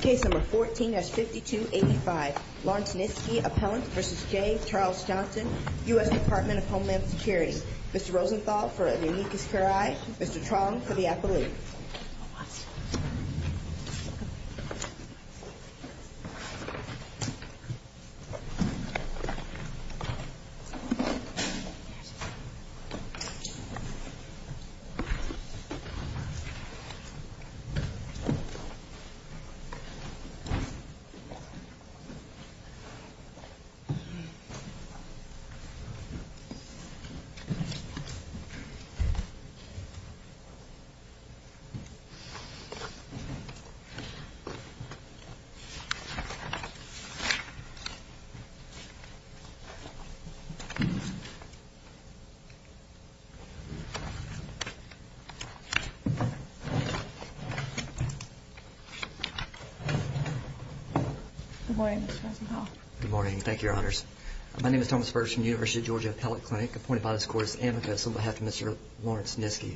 Case number 14-5285 Lawrence Niskey Appellant v. J. Charles Johnson U.S. Department of Homeland Security Mr. Rosenthal for the amicus curiae U.S. Department of Homeland Security Good morning, Mr. Rosenthal. Good morning. Thank you, Your Honors. My name is Thomas Birch from the University of Georgia Appellate Clinic, appointed by this Court as amicus on behalf of Mr. Lawrence Nisky.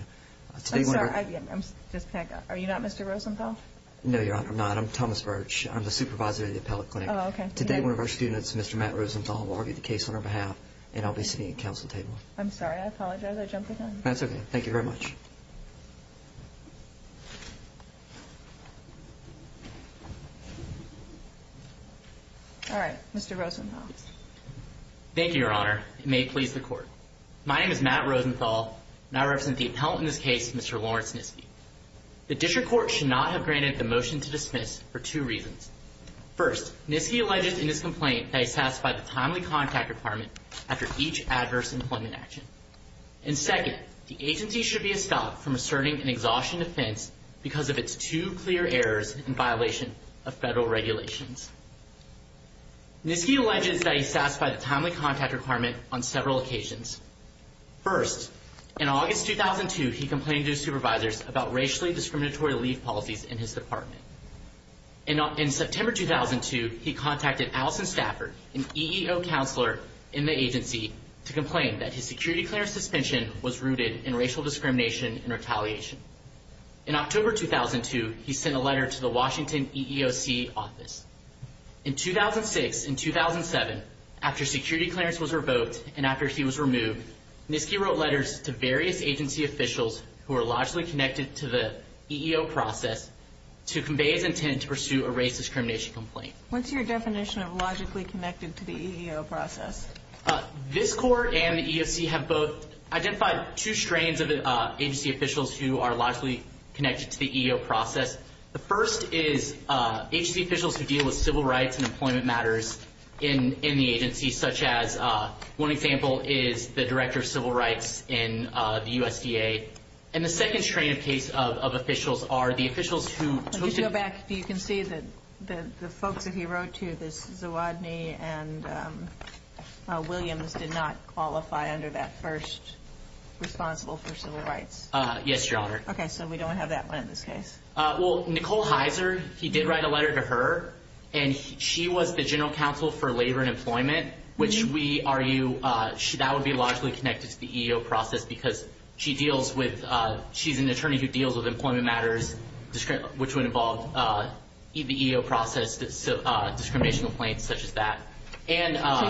I'm sorry. I'm just panicking. Are you not Mr. Rosenthal? No, Your Honor, I'm not. I'm Thomas Birch. I'm the supervisor of the Appellate Clinic. Oh, okay. Today, one of our students, Mr. Matt Rosenthal, will argue the case on our behalf, and I'll be sitting at the council table. I'm sorry. I apologize. I jumped the gun. That's okay. Thank you very much. All right. Mr. Rosenthal. Thank you, Your Honor. It may please the Court. My name is Matt Rosenthal, and I represent the appellant in this case, Mr. Lawrence Nisky. The district court should not have granted the motion to dismiss for two reasons. First, Nisky alleged in his complaint that he satisfied the timely contact requirement after each adverse employment action. And second, the agency should be stopped from asserting an exhaustion defense because of its two clear errors in violation of federal regulations. Nisky alleges that he satisfied the timely contact requirement on several occasions. First, in August 2002, he complained to his supervisors about racially discriminatory leave policies in his department. In September 2002, he contacted Allison Stafford, an EEO counselor in the agency, to complain that his security clearance suspension was rooted in racial discrimination and retaliation. In October 2002, he sent a letter to the Washington EEOC office. In 2006 and 2007, after security clearance was revoked and after he was removed, Nisky wrote letters to various agency officials who are logically connected to the EEO process to convey his intent to pursue a race discrimination complaint. What's your definition of logically connected to the EEO process? This Court and the EEOC have both identified two strains of agency officials who are logically connected to the EEO process. The first is agency officials who deal with civil rights and employment matters in the agency, such as one example is the director of civil rights in the USDA. And the second strain of case of officials are the officials who… If you go back, you can see that the folks that he wrote to, this Zawadne and Williams, did not qualify under that first responsible for civil rights. Yes, Your Honor. Okay, so we don't have that one in this case. Well, Nicole Heiser, he did write a letter to her, and she was the general counsel for labor and employment, which we argue that would be logically connected to the EEO process because she deals with… she's an attorney who deals with employment matters, which would involve the EEO process, discrimination complaints, such as that. So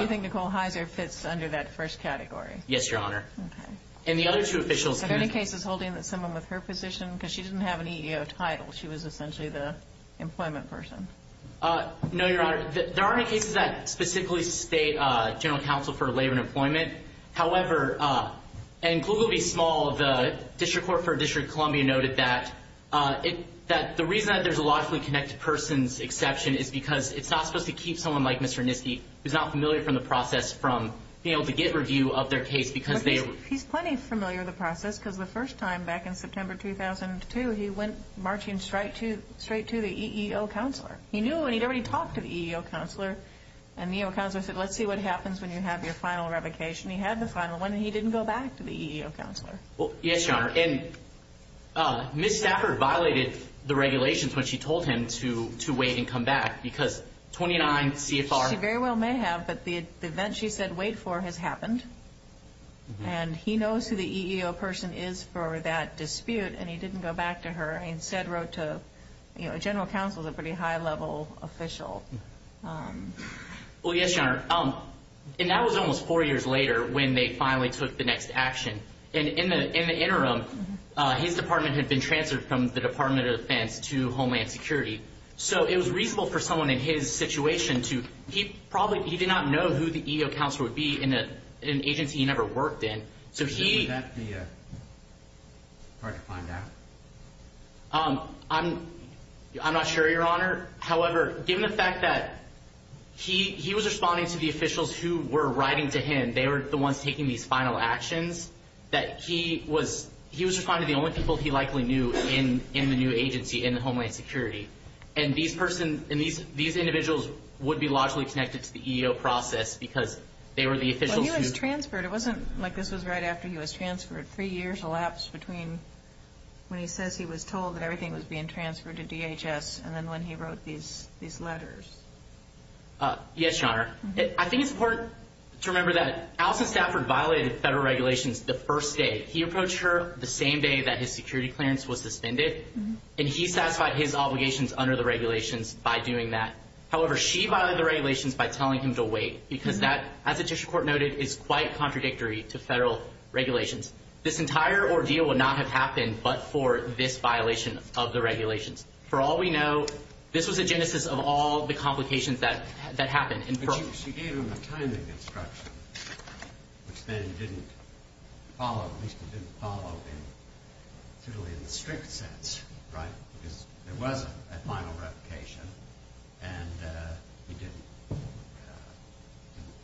you think Nicole Heiser fits under that first category? Yes, Your Honor. Okay. And the other two officials… Are there any cases holding that someone with her position, because she didn't have an EEO title. She was essentially the employment person. No, Your Honor. There aren't any cases that specifically state general counsel for labor and employment. However, in Kluge v. Small, the district court for District of Columbia noted that the reason that there's a logically connected person's exception is because it's not supposed to keep someone like Mr. Nisky, who's not familiar from the process, from being able to get review of their case because they… He's plenty familiar with the process because the first time, back in September 2002, he went marching straight to the EEO counselor. He knew, and he'd already talked to the EEO counselor, and the EEO counselor said, let's see what happens when you have your final revocation. He had the final one, and he didn't go back to the EEO counselor. Yes, Your Honor. And Ms. Stafford violated the regulations when she told him to wait and come back because 29 CFR… She very well may have, but the event she said wait for has happened, and he knows who the EEO person is for that dispute, and he didn't go back to her and instead wrote to a general counsel who's a pretty high-level official. Well, yes, Your Honor. And that was almost four years later when they finally took the next action. In the interim, his department had been transferred from the Department of Defense to Homeland Security. So it was reasonable for someone in his situation to – he probably – he did not know who the EEO counselor would be in an agency he never worked in. So he… Would that be hard to find out? I'm not sure, Your Honor. However, given the fact that he was responding to the officials who were writing to him, and they were the ones taking these final actions, that he was responding to the only people he likely knew in the new agency, in the Homeland Security. And these individuals would be logically connected to the EEO process because they were the officials who… Well, he was transferred. It wasn't like this was right after he was transferred. Three years elapsed between when he says he was told that everything was being transferred to DHS and then when he wrote these letters. Yes, Your Honor. I think it's important to remember that Allison Stafford violated federal regulations the first day. He approached her the same day that his security clearance was suspended, and he satisfied his obligations under the regulations by doing that. However, she violated the regulations by telling him to wait because that, as the district court noted, is quite contradictory to federal regulations. This entire ordeal would not have happened but for this violation of the regulations. For all we know, this was the genesis of all the complications that happened. But she gave him a timing instruction, which then didn't follow, at least it didn't follow in the strict sense, right? Because there was a final replication, and he didn't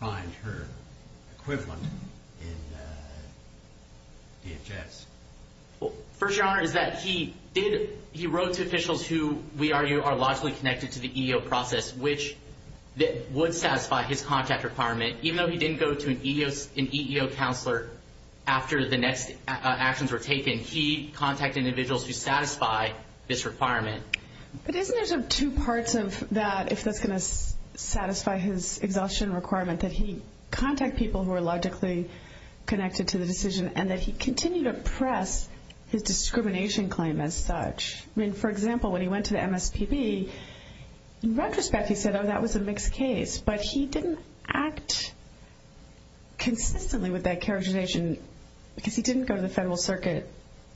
find her equivalent in DHS. First, Your Honor, is that he wrote to officials who we argue are logically connected to the EEO process, which would satisfy his contact requirement. Even though he didn't go to an EEO counselor after the next actions were taken, he contacted individuals who satisfy this requirement. But isn't there two parts of that, if that's going to satisfy his exhaustion requirement, that he contact people who are logically connected to the decision and that he continue to press his discrimination claim as such? I mean, for example, when he went to the MSPB, in retrospect, he said, oh, that was a mixed case. But he didn't act consistently with that characterization because he didn't go to the federal circuit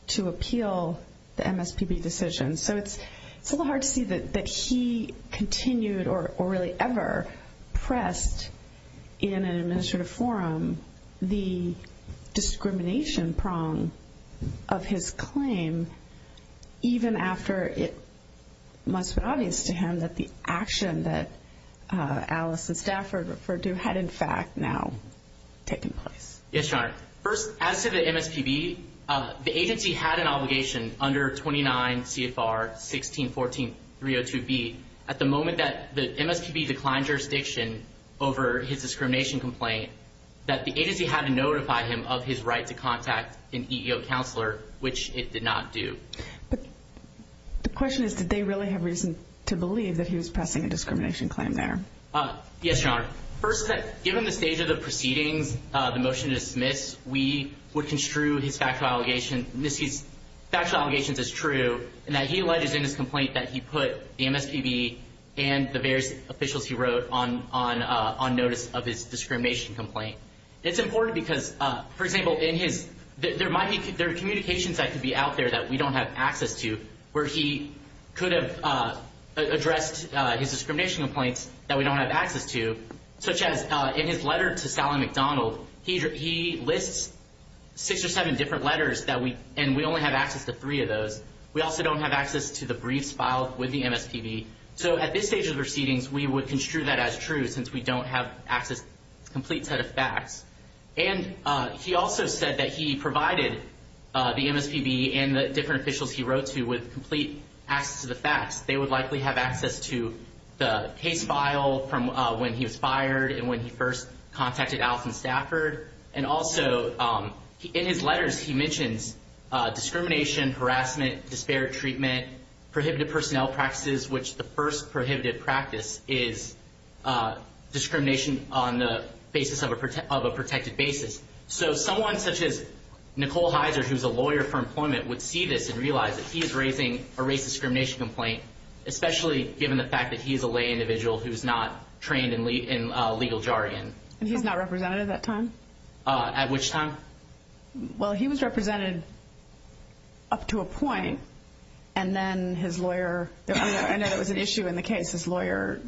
to appeal the MSPB decision. So it's a little hard to see that he continued or really ever pressed in an administrative forum the discrimination prong of his claim, even after it must have been obvious to him that the action that Alice and Stafford referred to had, in fact, now taken place. Yes, Your Honor. First, as to the MSPB, the agency had an obligation under 29 CFR 1614.302B, at the moment that the MSPB declined jurisdiction over his discrimination complaint, that the agency had to notify him of his right to contact an EEO counselor, which it did not do. But the question is, did they really have reason to believe that he was pressing a discrimination claim there? Yes, Your Honor. First, given the stage of the proceedings, the motion to dismiss, we would construe his factual allegations as true and that he alleges in his complaint that he put the MSPB and the various officials he wrote on notice of his discrimination complaint. It's important because, for example, there are communications that could be out there that we don't have access to where he could have addressed his discrimination complaints that we don't have access to, such as in his letter to Sally MacDonald, he lists six or seven different letters, and we only have access to three of those. We also don't have access to the briefs filed with the MSPB. So at this stage of the proceedings, we would construe that as true since we don't have access to a complete set of facts. And he also said that he provided the MSPB and the different officials he wrote to with complete access to the facts. They would likely have access to the case file from when he was fired and when he first contacted Allison Stafford. And also in his letters, he mentions discrimination, harassment, disparate treatment, prohibited personnel practices, which the first prohibited practice is discrimination on the basis of a protected basis. So someone such as Nicole Heiser, who is a lawyer for employment, would see this and realize that he is raising a race discrimination complaint, especially given the fact that he is a lay individual who is not trained in legal jargon. And he's not representative at that time? At which time? Well, he was represented up to a point, and then his lawyer – I know there was an issue in the case. His lawyer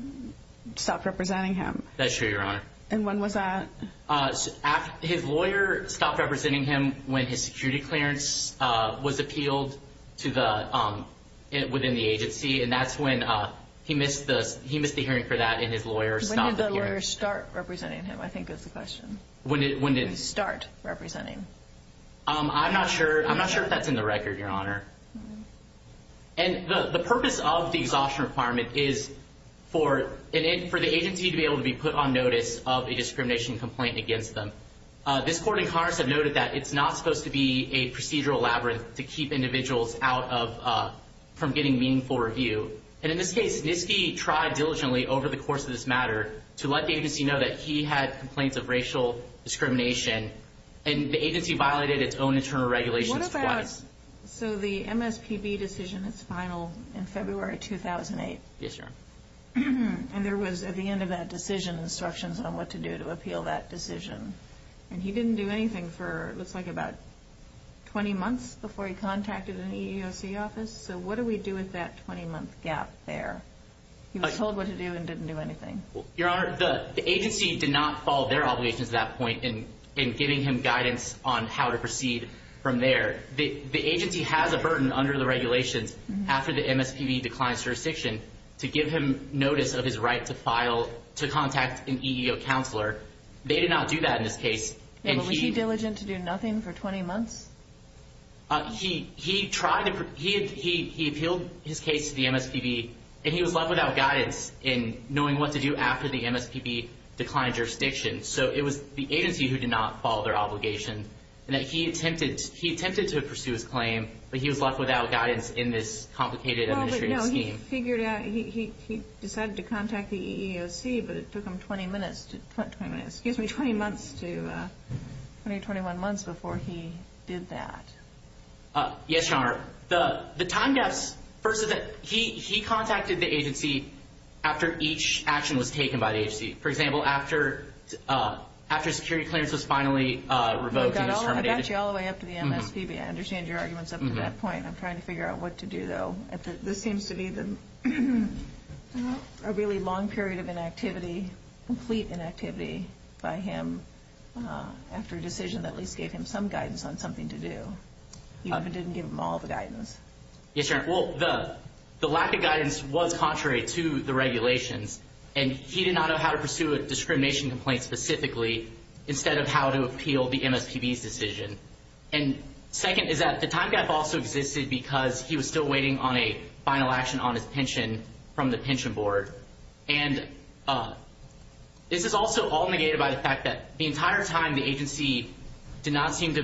stopped representing him. That's true, Your Honor. And when was that? His lawyer stopped representing him when his security clearance was appealed within the agency, and that's when he missed the hearing for that and his lawyer stopped the hearing. When did the lawyer start representing him, I think is the question. When did he start representing? I'm not sure. I'm not sure if that's in the record, Your Honor. And the purpose of the exhaustion requirement is for the agency to be able to be put on notice of a discrimination complaint against them. This court in Congress have noted that it's not supposed to be a procedural labyrinth to keep individuals out from getting meaningful review. And in this case, Nisky tried diligently over the course of this matter to let the agency know that he had complaints of racial discrimination, and the agency violated its own internal regulations twice. So the MSPB decision is final in February 2008. Yes, Your Honor. And there was, at the end of that decision, instructions on what to do to appeal that decision. And he didn't do anything for, it looks like, about 20 months before he contacted an EEOC office. So what do we do with that 20-month gap there? He was told what to do and didn't do anything. Your Honor, the agency did not follow their obligations at that point in giving him guidance on how to proceed from there. The agency has a burden under the regulations after the MSPB declines jurisdiction to give him notice of his right to contact an EEO counselor. They did not do that in this case. Was he diligent to do nothing for 20 months? He appealed his case to the MSPB, and he was left without guidance in knowing what to do after the MSPB declined jurisdiction. So it was the agency who did not follow their obligation, and he attempted to pursue his claim, but he was left without guidance in this complicated administrative scheme. No, he figured out, he decided to contact the EEOC, but it took him 20 minutes, excuse me, 20 months to, 20 to 21 months before he did that. Yes, Your Honor. The time gaps, he contacted the agency after each action was taken by the agency. For example, after security clearance was finally revoked and terminated. I got you all the way up to the MSPB. I understand your arguments up to that point. I'm trying to figure out what to do, though. This seems to be a really long period of inactivity, complete inactivity by him after a decision that at least gave him some guidance on something to do. You didn't give him all the guidance. Yes, Your Honor. Well, the lack of guidance was contrary to the regulations, and he did not know how to pursue a discrimination complaint specifically instead of how to appeal the MSPB's decision. And second is that the time gap also existed because he was still waiting on a final action on his pension from the pension board. And this is also all negated by the fact that the entire time the agency did not seem to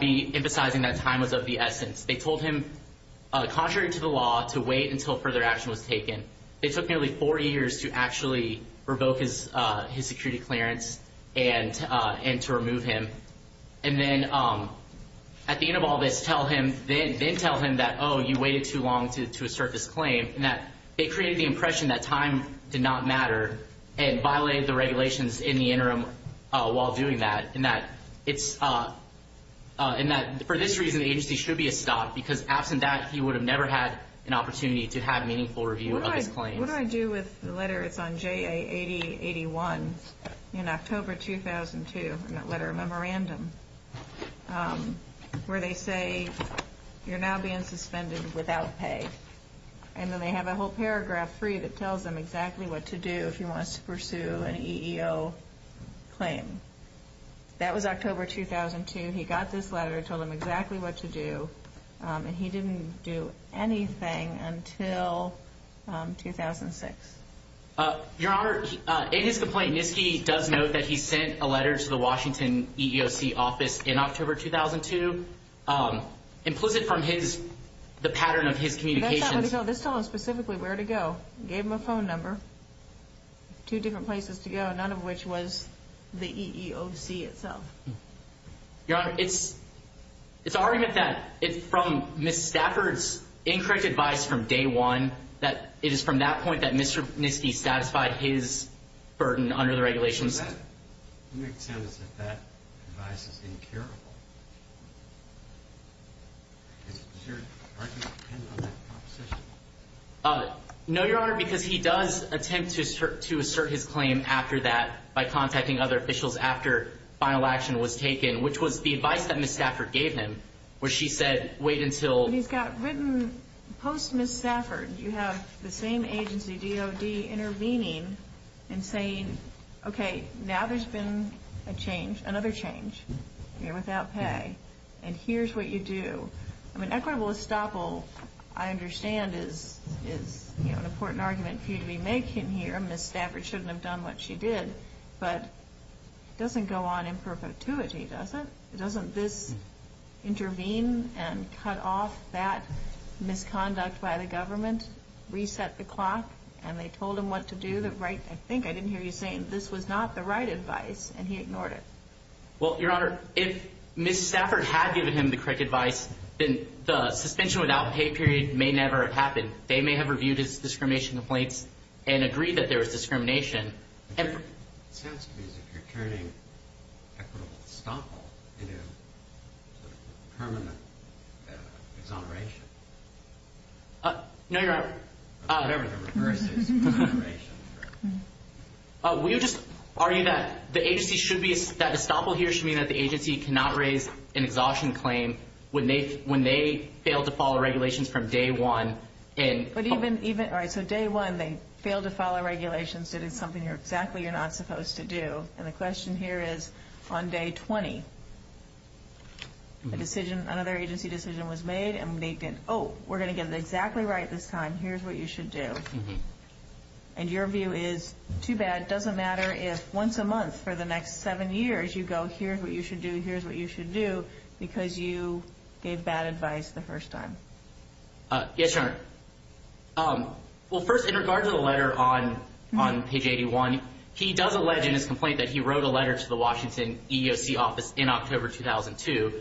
be emphasizing that time was of the essence. They told him, contrary to the law, to wait until further action was taken. It took nearly four years to actually revoke his security clearance and to remove him. And then at the end of all this, then tell him that, oh, you waited too long to assert this claim, and that they created the impression that time did not matter and violated the regulations in the interim while doing that, and that for this reason the agency should be a stop because, absent that, he would have never had an opportunity to have meaningful review of his claims. What do I do with the letter that's on JA 8081 in October 2002, that letter memorandum, where they say you're now being suspended without pay? And then they have a whole paragraph free that tells them exactly what to do if he wants to pursue an EEO claim. That was October 2002. He got this letter, told them exactly what to do, and he didn't do anything until 2006. Your Honor, in his complaint, Nisky does note that he sent a letter to the Washington EEOC office in October 2002. Implicit from the pattern of his communications. That's not what he told. This told him specifically where to go. Gave him a phone number, two different places to go, none of which was the EEOC itself. Your Honor, it's an argument that from Ms. Stafford's incorrect advice from day one, that it is from that point that Mr. Nisky satisfied his burden under the regulations. What makes it sound as if that advice is incurable? Does your argument depend on that proposition? No, Your Honor, because he does attempt to assert his claim after that by contacting other officials after final action was taken, which was the advice that Ms. Stafford gave him, where she said, wait until He's got written post-Ms. Stafford, you have the same agency, DOD, intervening and saying, okay, now there's been a change, another change. You're without pay, and here's what you do. I mean equitable estoppel, I understand, is an important argument for you to be making here. I understand Ms. Stafford shouldn't have done what she did, but it doesn't go on in perpetuity, does it? Doesn't this intervene and cut off that misconduct by the government, reset the clock, and they told him what to do? I think I didn't hear you saying this was not the right advice, and he ignored it. Well, Your Honor, if Ms. Stafford had given him the correct advice, then the suspension without pay period may never have happened. They may have reviewed his discrimination complaints and agreed that there was discrimination. It sounds to me as if you're turning equitable estoppel into permanent exoneration. No, Your Honor. Whatever the reverse is, exoneration. We would just argue that the agency should be, that estoppel here should mean that the agency cannot raise an exhaustion claim when they fail to follow regulations from day one. All right, so day one they fail to follow regulations. It is something exactly you're not supposed to do, and the question here is on day 20. Another agency decision was made, and they've been, oh, we're going to get it exactly right this time. Here's what you should do, and your view is too bad. It doesn't matter if once a month for the next seven years you go, here's what you should do, here's what you should do, because you gave bad advice the first time. Yes, Your Honor. Well, first, in regards to the letter on page 81, he does allege in his complaint that he wrote a letter to the Washington EEOC office in October 2002.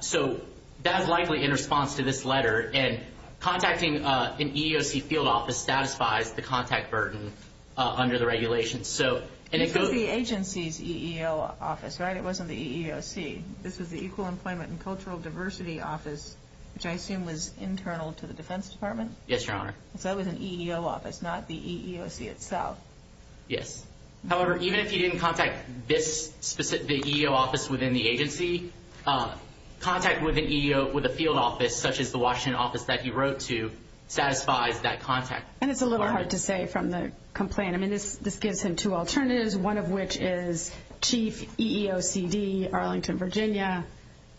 So that is likely in response to this letter, and contacting an EEOC field office satisfies the contact burden under the regulations. This was the agency's EEOC office, right? It wasn't the EEOC. This was the Equal Employment and Cultural Diversity Office, which I assume was internal to the Defense Department. Yes, Your Honor. So that was an EEOC office, not the EEOC itself. Yes. However, even if he didn't contact the EEOC office within the agency, contact with a field office such as the Washington office that he wrote to satisfies that contact. And it's a little hard to say from the complaint. I mean, this gives him two alternatives, one of which is Chief EEOCD Arlington, Virginia.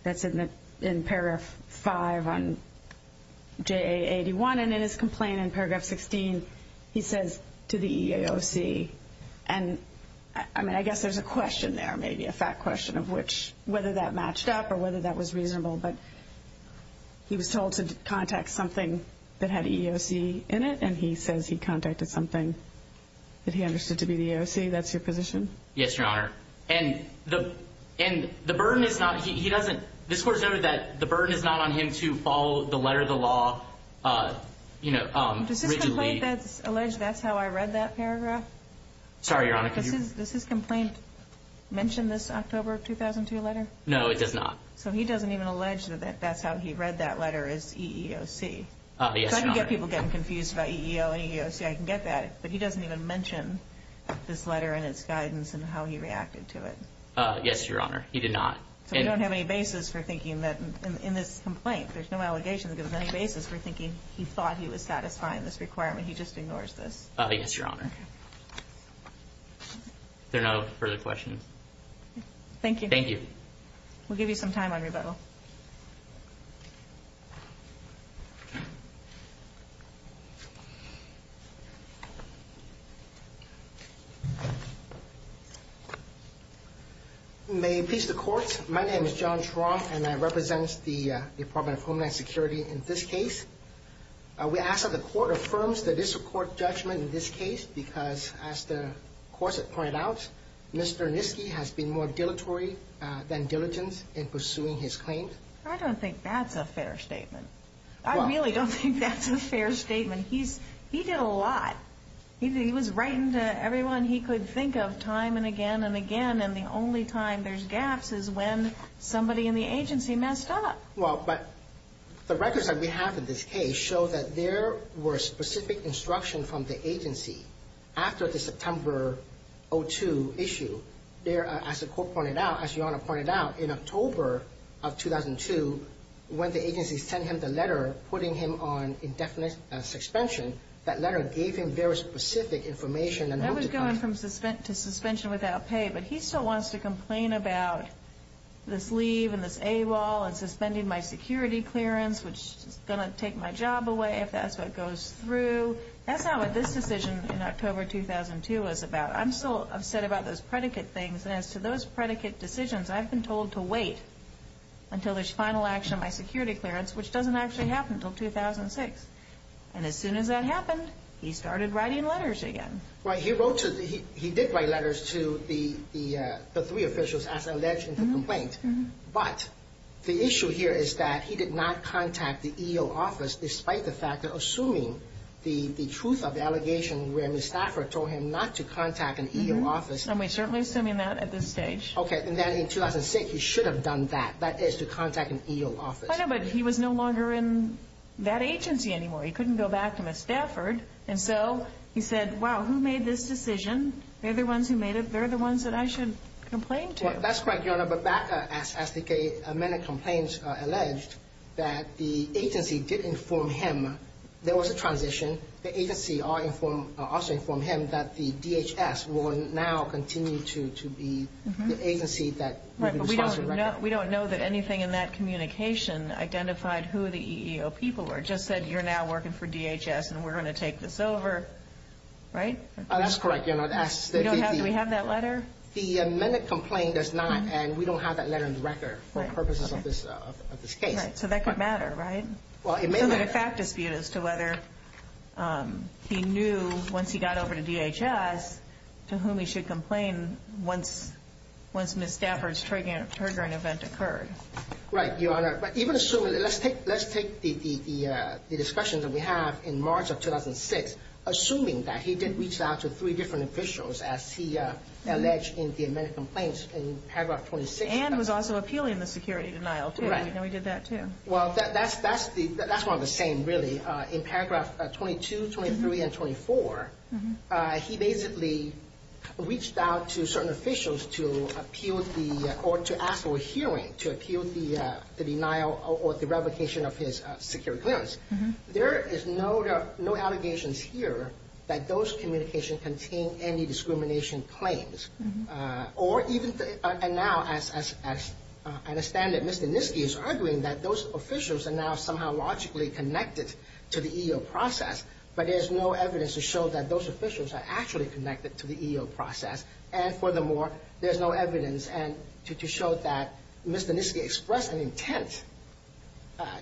That's in paragraph 5 on JA81. And in his complaint in paragraph 16, he says to the EEOC. And, I mean, I guess there's a question there, maybe a fact question, of whether that matched up or whether that was reasonable. But he was told to contact something that had EEOC in it, and he says he contacted something that he understood to be the EEOC. That's your position? Yes, Your Honor. And the burden is not he doesn't, this Court has noted that the burden is not on him to follow the letter of the law, you know, rigidly. Does his complaint allege that's how I read that paragraph? Sorry, Your Honor. Does his complaint mention this October 2002 letter? No, it does not. So he doesn't even allege that that's how he read that letter as EEOC. Yes, Your Honor. I get people getting confused about EEOC. I can get that. But he doesn't even mention this letter and its guidance and how he reacted to it. Yes, Your Honor. He did not. So we don't have any basis for thinking that in this complaint, there's no allegation that there's any basis for thinking he thought he was satisfying this requirement. He just ignores this. Yes, Your Honor. Is there no further questions? Thank you. Thank you. We'll give you some time on rebuttal. Thank you. May it please the Court, my name is John Truong, and I represent the Department of Homeland Security in this case. We ask that the Court affirms that this Court judgment in this case because, as the Corset pointed out, Mr. Nisky has been more dilatory than diligent in pursuing his claim. I don't think that's a fair statement. I really don't think that's a fair statement. He did a lot. He was writing to everyone he could think of time and again and again, and the only time there's gaps is when somebody in the agency messed up. Well, but the records that we have in this case show that there were specific instructions from the agency after the September 2002 issue. There, as the Court pointed out, as Your Honor pointed out, in October of 2002, when the agency sent him the letter putting him on indefinite suspension, that letter gave him very specific information. That was going to suspension without pay, but he still wants to complain about this leave and this AWOL and suspending my security clearance, which is going to take my job away if that's what goes through. That's not what this decision in October 2002 was about. I'm still upset about those predicate things, and as to those predicate decisions, I've been told to wait until there's final action on my security clearance, which doesn't actually happen until 2006. And as soon as that happened, he started writing letters again. Right. He did write letters to the three officials as alleged in the complaint, but the issue here is that he did not contact the EEO office, despite the fact that assuming the truth of the allegation where Ms. Stafford told him not to contact an EEO office. And we're certainly assuming that at this stage. Okay, and then in 2006, he should have done that, that is to contact an EEO office. I know, but he was no longer in that agency anymore. He couldn't go back to Ms. Stafford. And so he said, wow, who made this decision? They're the ones who made it. They're the ones that I should complain to. That's correct, Your Honor, but back as the men in complaints alleged, that the agency did inform him there was a transition. The agency also informed him that the DHS will now continue to be the agency that will be responsible. We don't know that anything in that communication identified who the EEO people were. It just said you're now working for DHS and we're going to take this over, right? That's correct, Your Honor. Do we have that letter? The men in complaint does not, and we don't have that letter in the record for purposes of this case. So that could matter, right? Well, it may matter. It's a matter of fact dispute as to whether he knew, once he got over to DHS, to whom he should complain once Ms. Stafford's triggering event occurred. Right, Your Honor. But even assuming, let's take the discussion that we have in March of 2006, assuming that he did reach out to three different officials as he alleged in the men in complaints in February of 2006. And was also appealing the security denial, too. Right. And we did that, too. Well, that's one of the same, really. In paragraph 22, 23, and 24, he basically reached out to certain officials to appeal the, or to ask for a hearing to appeal the denial or the revocation of his security clearance. There is no allegations here that those communications contain any discrimination claims. Or even, and now as I understand it, Mr. Nisky is arguing that those officials are now somehow logically connected to the EEO process. But there's no evidence to show that those officials are actually connected to the EEO process. And furthermore, there's no evidence to show that Mr. Nisky expressed an intent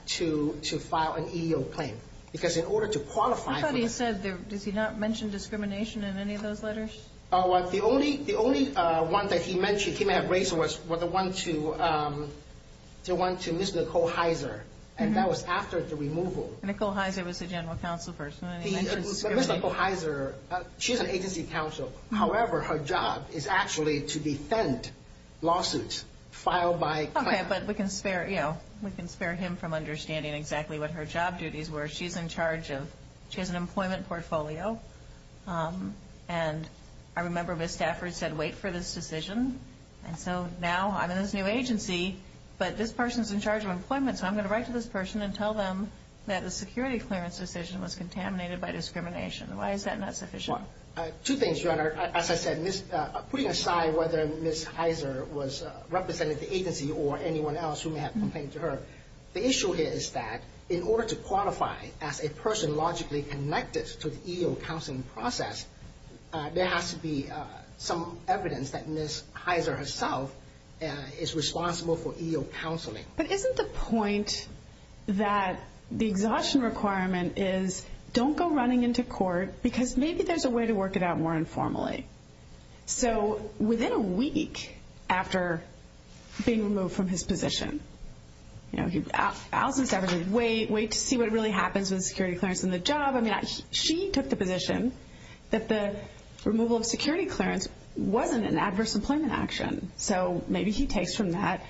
to file an EEO claim. Because in order to qualify for this. Somebody said, does he not mention discrimination in any of those letters? The only one that he mentioned, he may have raised, was the one to Ms. Nicole Heiser. And that was after the removal. Nicole Heiser was a general counsel person. Ms. Nicole Heiser, she's an agency counsel. However, her job is actually to defend lawsuits filed by clients. Okay, but we can spare him from understanding exactly what her job duties were. She's in charge of, she has an employment portfolio. And I remember Ms. Stafford said, wait for this decision. And so now I'm in this new agency, but this person's in charge of employment. So I'm going to write to this person and tell them that the security clearance decision was contaminated by discrimination. Why is that not sufficient? Two things, Your Honor. As I said, putting aside whether Ms. Heiser was representing the agency or anyone else who may have complained to her. The issue here is that in order to qualify as a person logically connected to the EEO counseling process, there has to be some evidence that Ms. Heiser herself is responsible for EEO counseling. But isn't the point that the exhaustion requirement is don't go running into court because maybe there's a way to work it out more informally. So within a week after being removed from his position, Allison Stafford said, wait, wait to see what really happens with security clearance in the job. I mean, she took the position that the removal of security clearance wasn't an adverse employment action. So maybe he takes from that,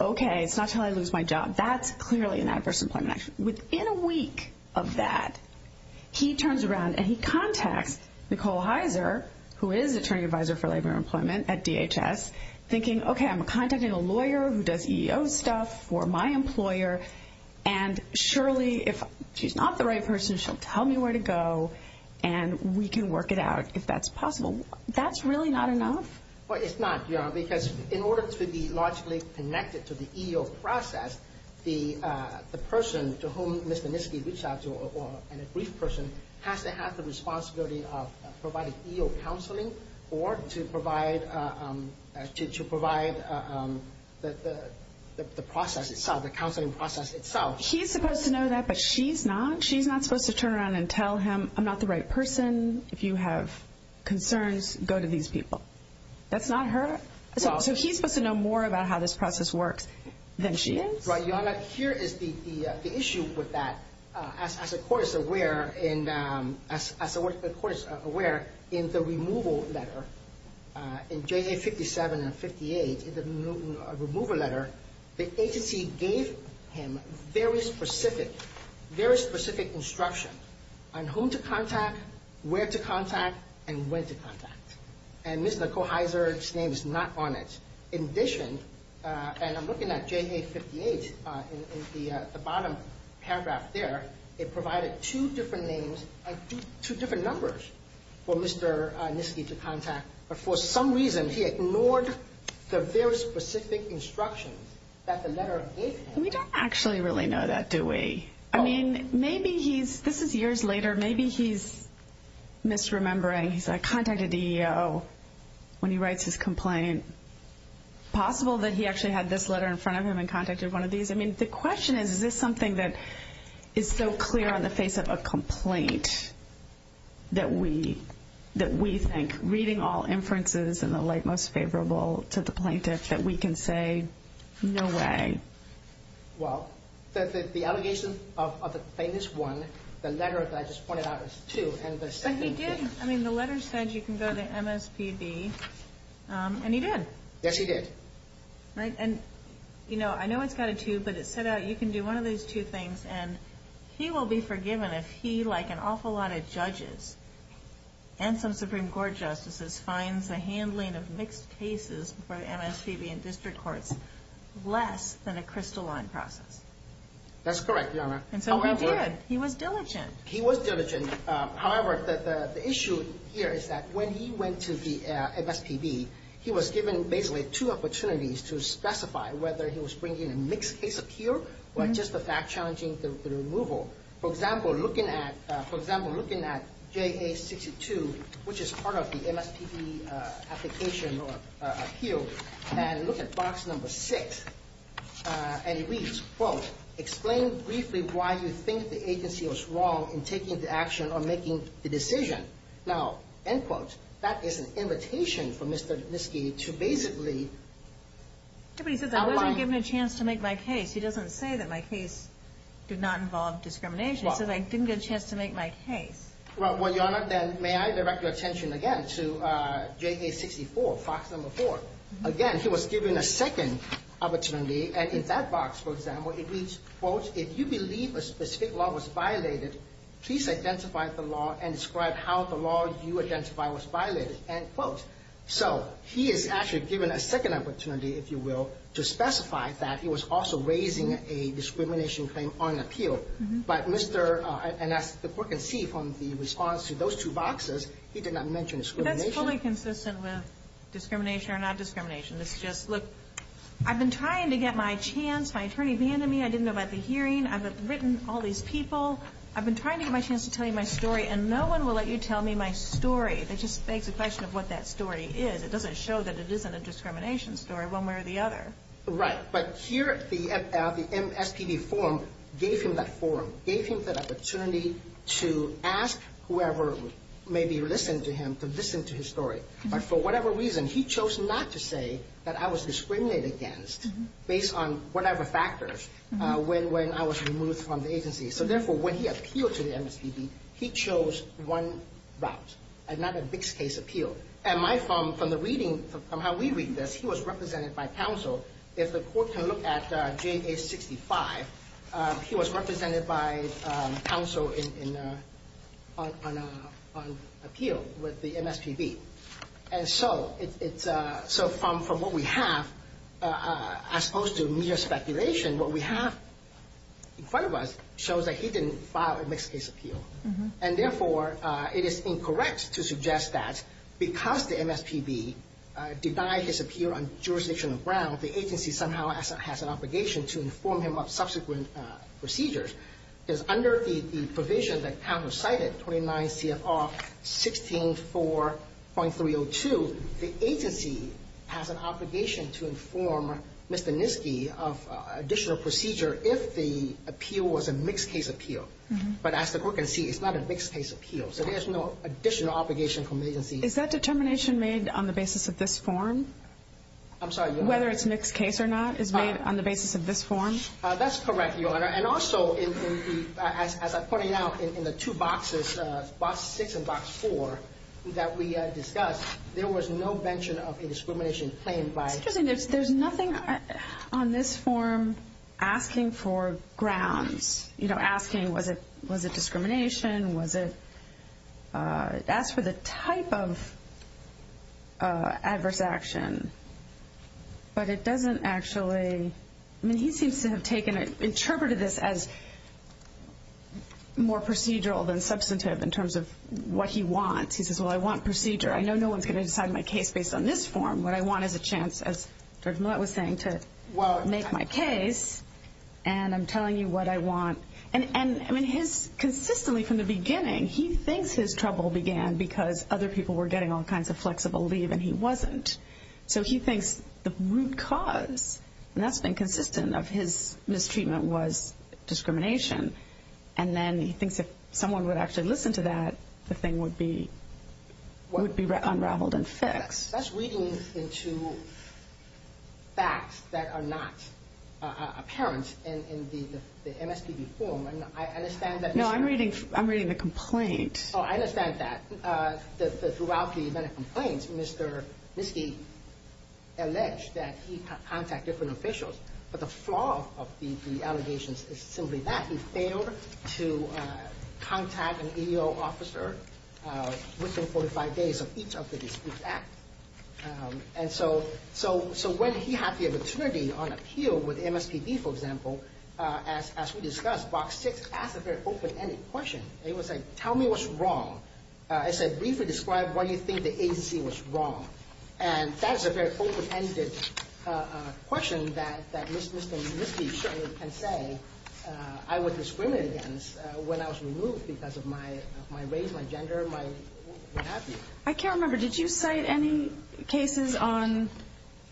okay, it's not until I lose my job. That's clearly an adverse employment action. Within a week of that, he turns around and he contacts Nicole Heiser, who is attorney advisor for labor employment at DHS, thinking, okay, I'm contacting a lawyer who does EEO stuff for my employer. And surely if she's not the right person, she'll tell me where to go and we can work it out if that's possible. That's really not enough? Well, it's not, because in order to be logically connected to the EEO process, the person to whom Mr. Nisky reached out to, or a brief person, has to have the responsibility of providing EEO counseling or to provide the process itself, the counseling process itself. He's supposed to know that, but she's not. She's not supposed to turn around and tell him, I'm not the right person. If you have concerns, go to these people. That's not her? So he's supposed to know more about how this process works than she is? Right. Here is the issue with that. As the court is aware, in the removal letter, in JA57 and 58, in the removal letter, the agency gave him very specific instructions on whom to contact, where to contact, and when to contact. And Ms. Nicole Heizer's name is not on it. In addition, and I'm looking at JA58 in the bottom paragraph there, it provided two different names and two different numbers for Mr. Nisky to contact. But for some reason, he ignored the very specific instructions that the letter gave him. We don't actually really know that, do we? I mean, maybe he's, this is years later, maybe he's misremembering. He's like, I contacted EEO when he writes his complaint. Possible that he actually had this letter in front of him and contacted one of these. I mean, the question is, is this something that is so clear on the face of a complaint that we think, reading all inferences and the like, most favorable to the plaintiff, that we can say, no way? Well, the allegation of the plaintiff's one, the letter that I just pointed out is two. But he did, I mean, the letter said you can go to MSPB, and he did. Yes, he did. And, you know, I know it's got a two, but it said that you can do one of these two things and he will be forgiven if he, like an awful lot of judges and some Supreme Court justices, finds the handling of mixed cases for MSPB and district courts less than a crystalline process. That's correct, Your Honor. And so he did. He was diligent. He was diligent. However, the issue here is that when he went to the MSPB, he was given basically two opportunities to specify whether he was bringing a mixed case appeal or just the fact challenging the removal. For example, looking at JA62, which is part of the MSPB application or appeal, and look at box number six, and it reads, quote, explain briefly why you think the agency was wrong in taking the action or making the decision. Now, end quote, that is an invitation for Mr. Nisky to basically outline. I wasn't given a chance to make my case. He doesn't say that my case did not involve discrimination. He says I didn't get a chance to make my case. Well, Your Honor, then may I direct your attention again to JA64, box number four. Again, he was given a second opportunity, and in that box, for example, it reads, quote, if you believe a specific law was violated, please identify the law and describe how the law you identify was violated, end quote. So he is actually given a second opportunity, if you will, to specify that he was also raising a discrimination claim on appeal. But Mr. Nisky, as the Court can see from the response to those two boxes, he did not mention discrimination. But that's fully consistent with discrimination or not discrimination. It's just, look, I've been trying to get my chance. My attorney abandoned me. I didn't know about the hearing. I've written all these people. I've been trying to get my chance to tell you my story, and no one will let you tell me my story. It just begs the question of what that story is. It doesn't show that it isn't a discrimination story one way or the other. Right, but here the MSPB forum gave him that forum, gave him that opportunity to ask whoever maybe listened to him to listen to his story. But for whatever reason, he chose not to say that I was discriminated against based on whatever factors when I was removed from the agency. So, therefore, when he appealed to the MSPB, he chose one route and not a mixed-case appeal. And from the reading, from how we read this, he was represented by counsel. If the Court can look at JA-65, he was represented by counsel on appeal with the MSPB. And so, from what we have, as opposed to mere speculation, what we have in front of us shows that he didn't file a mixed-case appeal. And, therefore, it is incorrect to suggest that because the MSPB denied his appeal on jurisdictional grounds, the agency somehow has an obligation to inform him of subsequent procedures. Because under the provision that counsel cited, 29 C.F.R. 16.4.302, the agency has an obligation to inform Mr. Nisky of additional procedure if the appeal was a mixed-case appeal. But as the Court can see, it's not a mixed-case appeal. So there's no additional obligation from the agency. Is that determination made on the basis of this form? I'm sorry, Your Honor. Whether it's mixed-case or not is made on the basis of this form? That's correct, Your Honor. And also, as I pointed out in the two boxes, Box 6 and Box 4, that we discussed, there was no mention of a discrimination claimed by… It's interesting. There's nothing on this form asking for grounds. You know, asking was it discrimination, was it… It asks for the type of adverse action. But it doesn't actually… I mean, he seems to have taken it, interpreted this as more procedural than substantive in terms of what he wants. He says, well, I want procedure. I know no one's going to decide my case based on this form. What I want is a chance, as Judge Millett was saying, to make my case. And I'm telling you what I want. And, I mean, consistently from the beginning, he thinks his trouble began because other people were getting all kinds of flexible leave and he wasn't. So he thinks the root cause, and that's been consistent of his mistreatment, was discrimination. And then he thinks if someone would actually listen to that, the thing would be unraveled and fixed. That's reading into facts that are not apparent in the MSPB form. I understand that… No, I'm reading the complaint. Oh, I understand that. Throughout the medical complaints, Mr. Misty alleged that he contacted different officials. But the flaw of the allegations is simply that he failed to contact an EEO officer within 45 days of each of the dispute acts. And so when he had the opportunity on appeal with MSPB, for example, as we discussed, Box 6 asked a very open-ended question. It was like, tell me what's wrong. I said, briefly describe why you think the agency was wrong. And that's a very open-ended question that Mr. Misty certainly can say I was discriminated against when I was removed because of my race, my gender, my what have you. I can't remember. Did you cite any cases on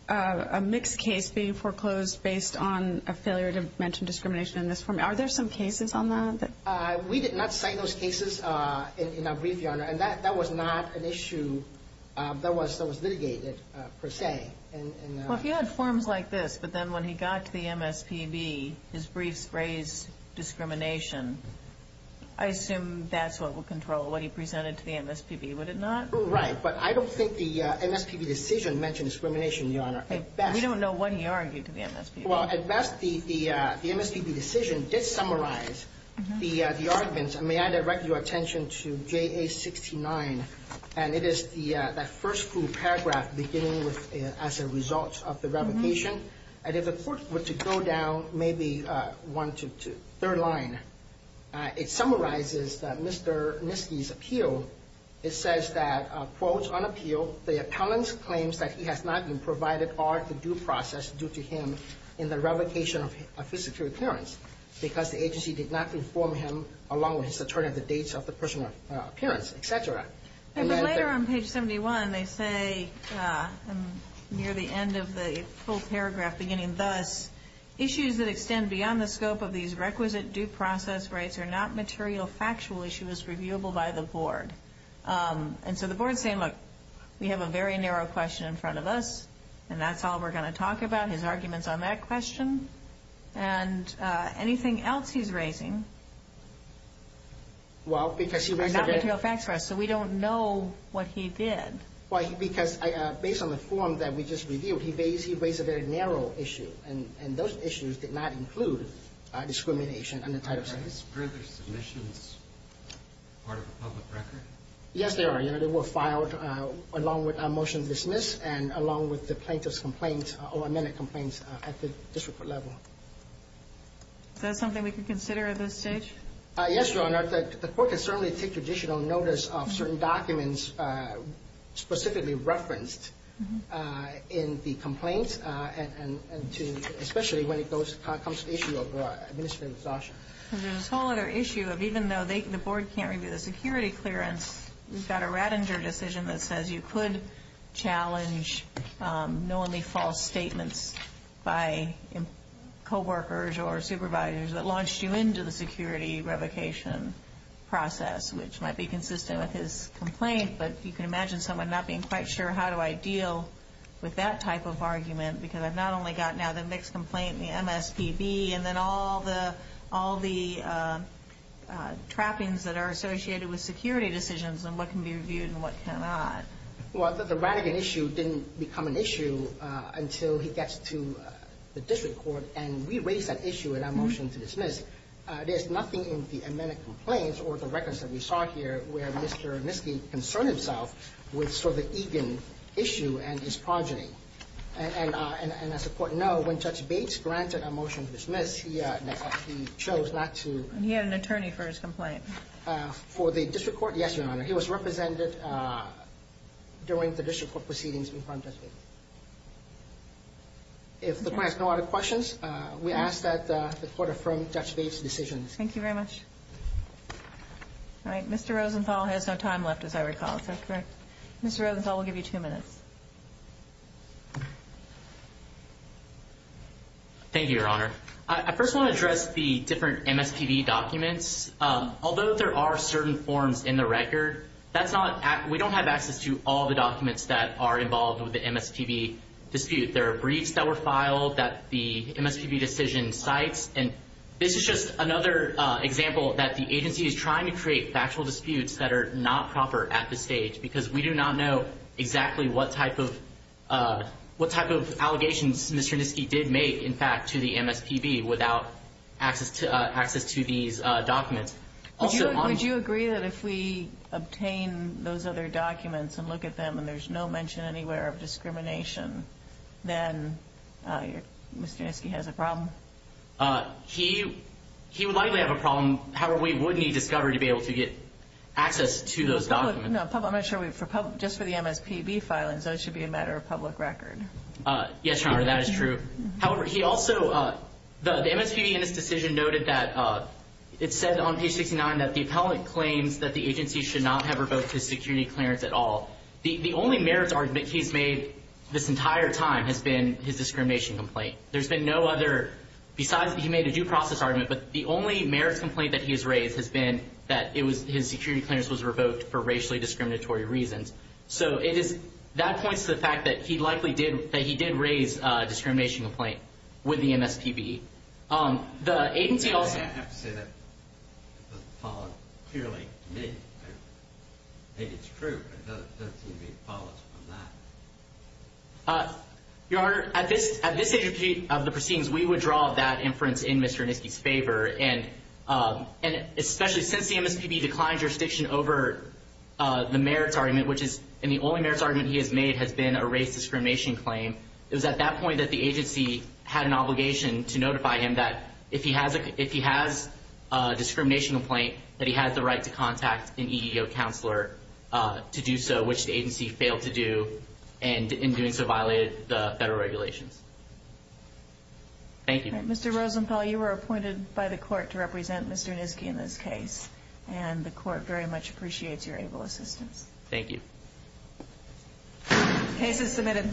a mixed case being foreclosed based on a failure to mention discrimination in this form? Are there some cases on that? We did not cite those cases in our brief, Your Honor. And that was not an issue that was litigated per se. Well, if you had forms like this, but then when he got to the MSPB, his briefs raised discrimination, I assume that's what would control what he presented to the MSPB, would it not? Right. But I don't think the MSPB decision mentioned discrimination, Your Honor. We don't know what he argued to the MSPB. Well, at best, the MSPB decision did summarize the arguments, and may I direct your attention to JA69, and it is that first full paragraph beginning as a result of the revocation. And if the Court were to go down maybe one to third line, it summarizes Mr. Nisky's appeal. It says that, quote, on appeal, the appellant claims that he has not been provided or the due process due to him in the revocation of his secure appearance because the agency did not inform him, along with his attorney, of the dates of the personal appearance, et cetera. But later on page 71, they say near the end of the full paragraph beginning, thus, issues that extend beyond the scope of these requisite due process rights are not material factual issues reviewable by the Board. And so the Board is saying, look, we have a very narrow question in front of us, and that's all we're going to talk about, his arguments on that question, and anything else he's raising is not material facts for us, so we don't know what he did. Well, because based on the form that we just reviewed, he raised a very narrow issue, and those issues did not include discrimination under Title VI. Are these further submissions part of a public record? Yes, they are. They were filed along with a motion to dismiss and along with the plaintiff's complaints or amended complaints at the district court level. Is that something we can consider at this stage? Yes, Your Honor. The court can certainly take additional notice of certain documents specifically referenced in the complaint, especially when it comes to issue of administrative exhaustion. There's this whole other issue of even though the Board can't review the security clearance, we've got a Rattinger decision that says you could challenge knowingly false statements by coworkers or supervisors that launched you into the security revocation process, which might be consistent with his complaint, but you can imagine someone not being quite sure how do I deal with that type of argument because I've not only got now the mixed complaint, the MSPB, and then all the trappings that are associated with security decisions and what can be reviewed and what cannot. Well, the Rattinger issue didn't become an issue until he gets to the district court, and we raised that issue in our motion to dismiss. There's nothing in the amended complaints or the records that we saw here where Mr. Miske concerned himself with sort of the Egan issue and his progeny. And as the Court knows, when Judge Bates granted a motion to dismiss, he chose not to. He had an attorney for his complaint. For the district court? Yes, Your Honor. He was represented during the district court proceedings in front of Judge Bates. If the client has no other questions, we ask that the Court affirm Judge Bates' decision. Thank you very much. All right. Mr. Rosenthal has no time left, as I recall. Is that correct? Mr. Rosenthal, we'll give you two minutes. Thank you, Your Honor. I first want to address the different MSPB documents. Although there are certain forms in the record, we don't have access to all the documents that are involved with the MSPB dispute. There are briefs that were filed that the MSPB decision cites, and this is just another example that the agency is trying to create factual disputes that are not proper at this stage because we do not know exactly what type of allegations Mr. Niski did make, in fact, to the MSPB without access to these documents. Would you agree that if we obtain those other documents and look at them and there's no mention anywhere of discrimination, then Mr. Niski has a problem? He would likely have a problem. However, we would need discovery to be able to get access to those documents. No, I'm not sure. Just for the MSPB filings, that should be a matter of public record. Yes, Your Honor, that is true. However, he also, the MSPB in his decision noted that it said on page 69 that the appellate claims that the agency should not have revoked his security clearance at all. The only merits he's made this entire time has been his discrimination complaint. There's been no other, besides that he made a due process argument, but the only merits complaint that he has raised has been that his security clearance was revoked for racially discriminatory reasons. So that points to the fact that he likely did raise a discrimination complaint with the MSPB. The agency also- I have to say that doesn't follow clearly. Maybe it's true, but it doesn't seem to be following from that. Your Honor, at this stage of the proceedings, we would draw that inference in Mr. Niski's favor, and especially since the MSPB declined jurisdiction over the merits argument, and the only merits argument he has made has been a race discrimination claim, it was at that point that the agency had an obligation to notify him that if he has a discrimination complaint, that he has the right to contact an EEO counselor to do so, which the agency failed to do, and in doing so violated the federal regulations. Thank you. Mr. Rosenthal, you were appointed by the court to represent Mr. Niski in this case, and the court very much appreciates your able assistance. Thank you. Case is submitted.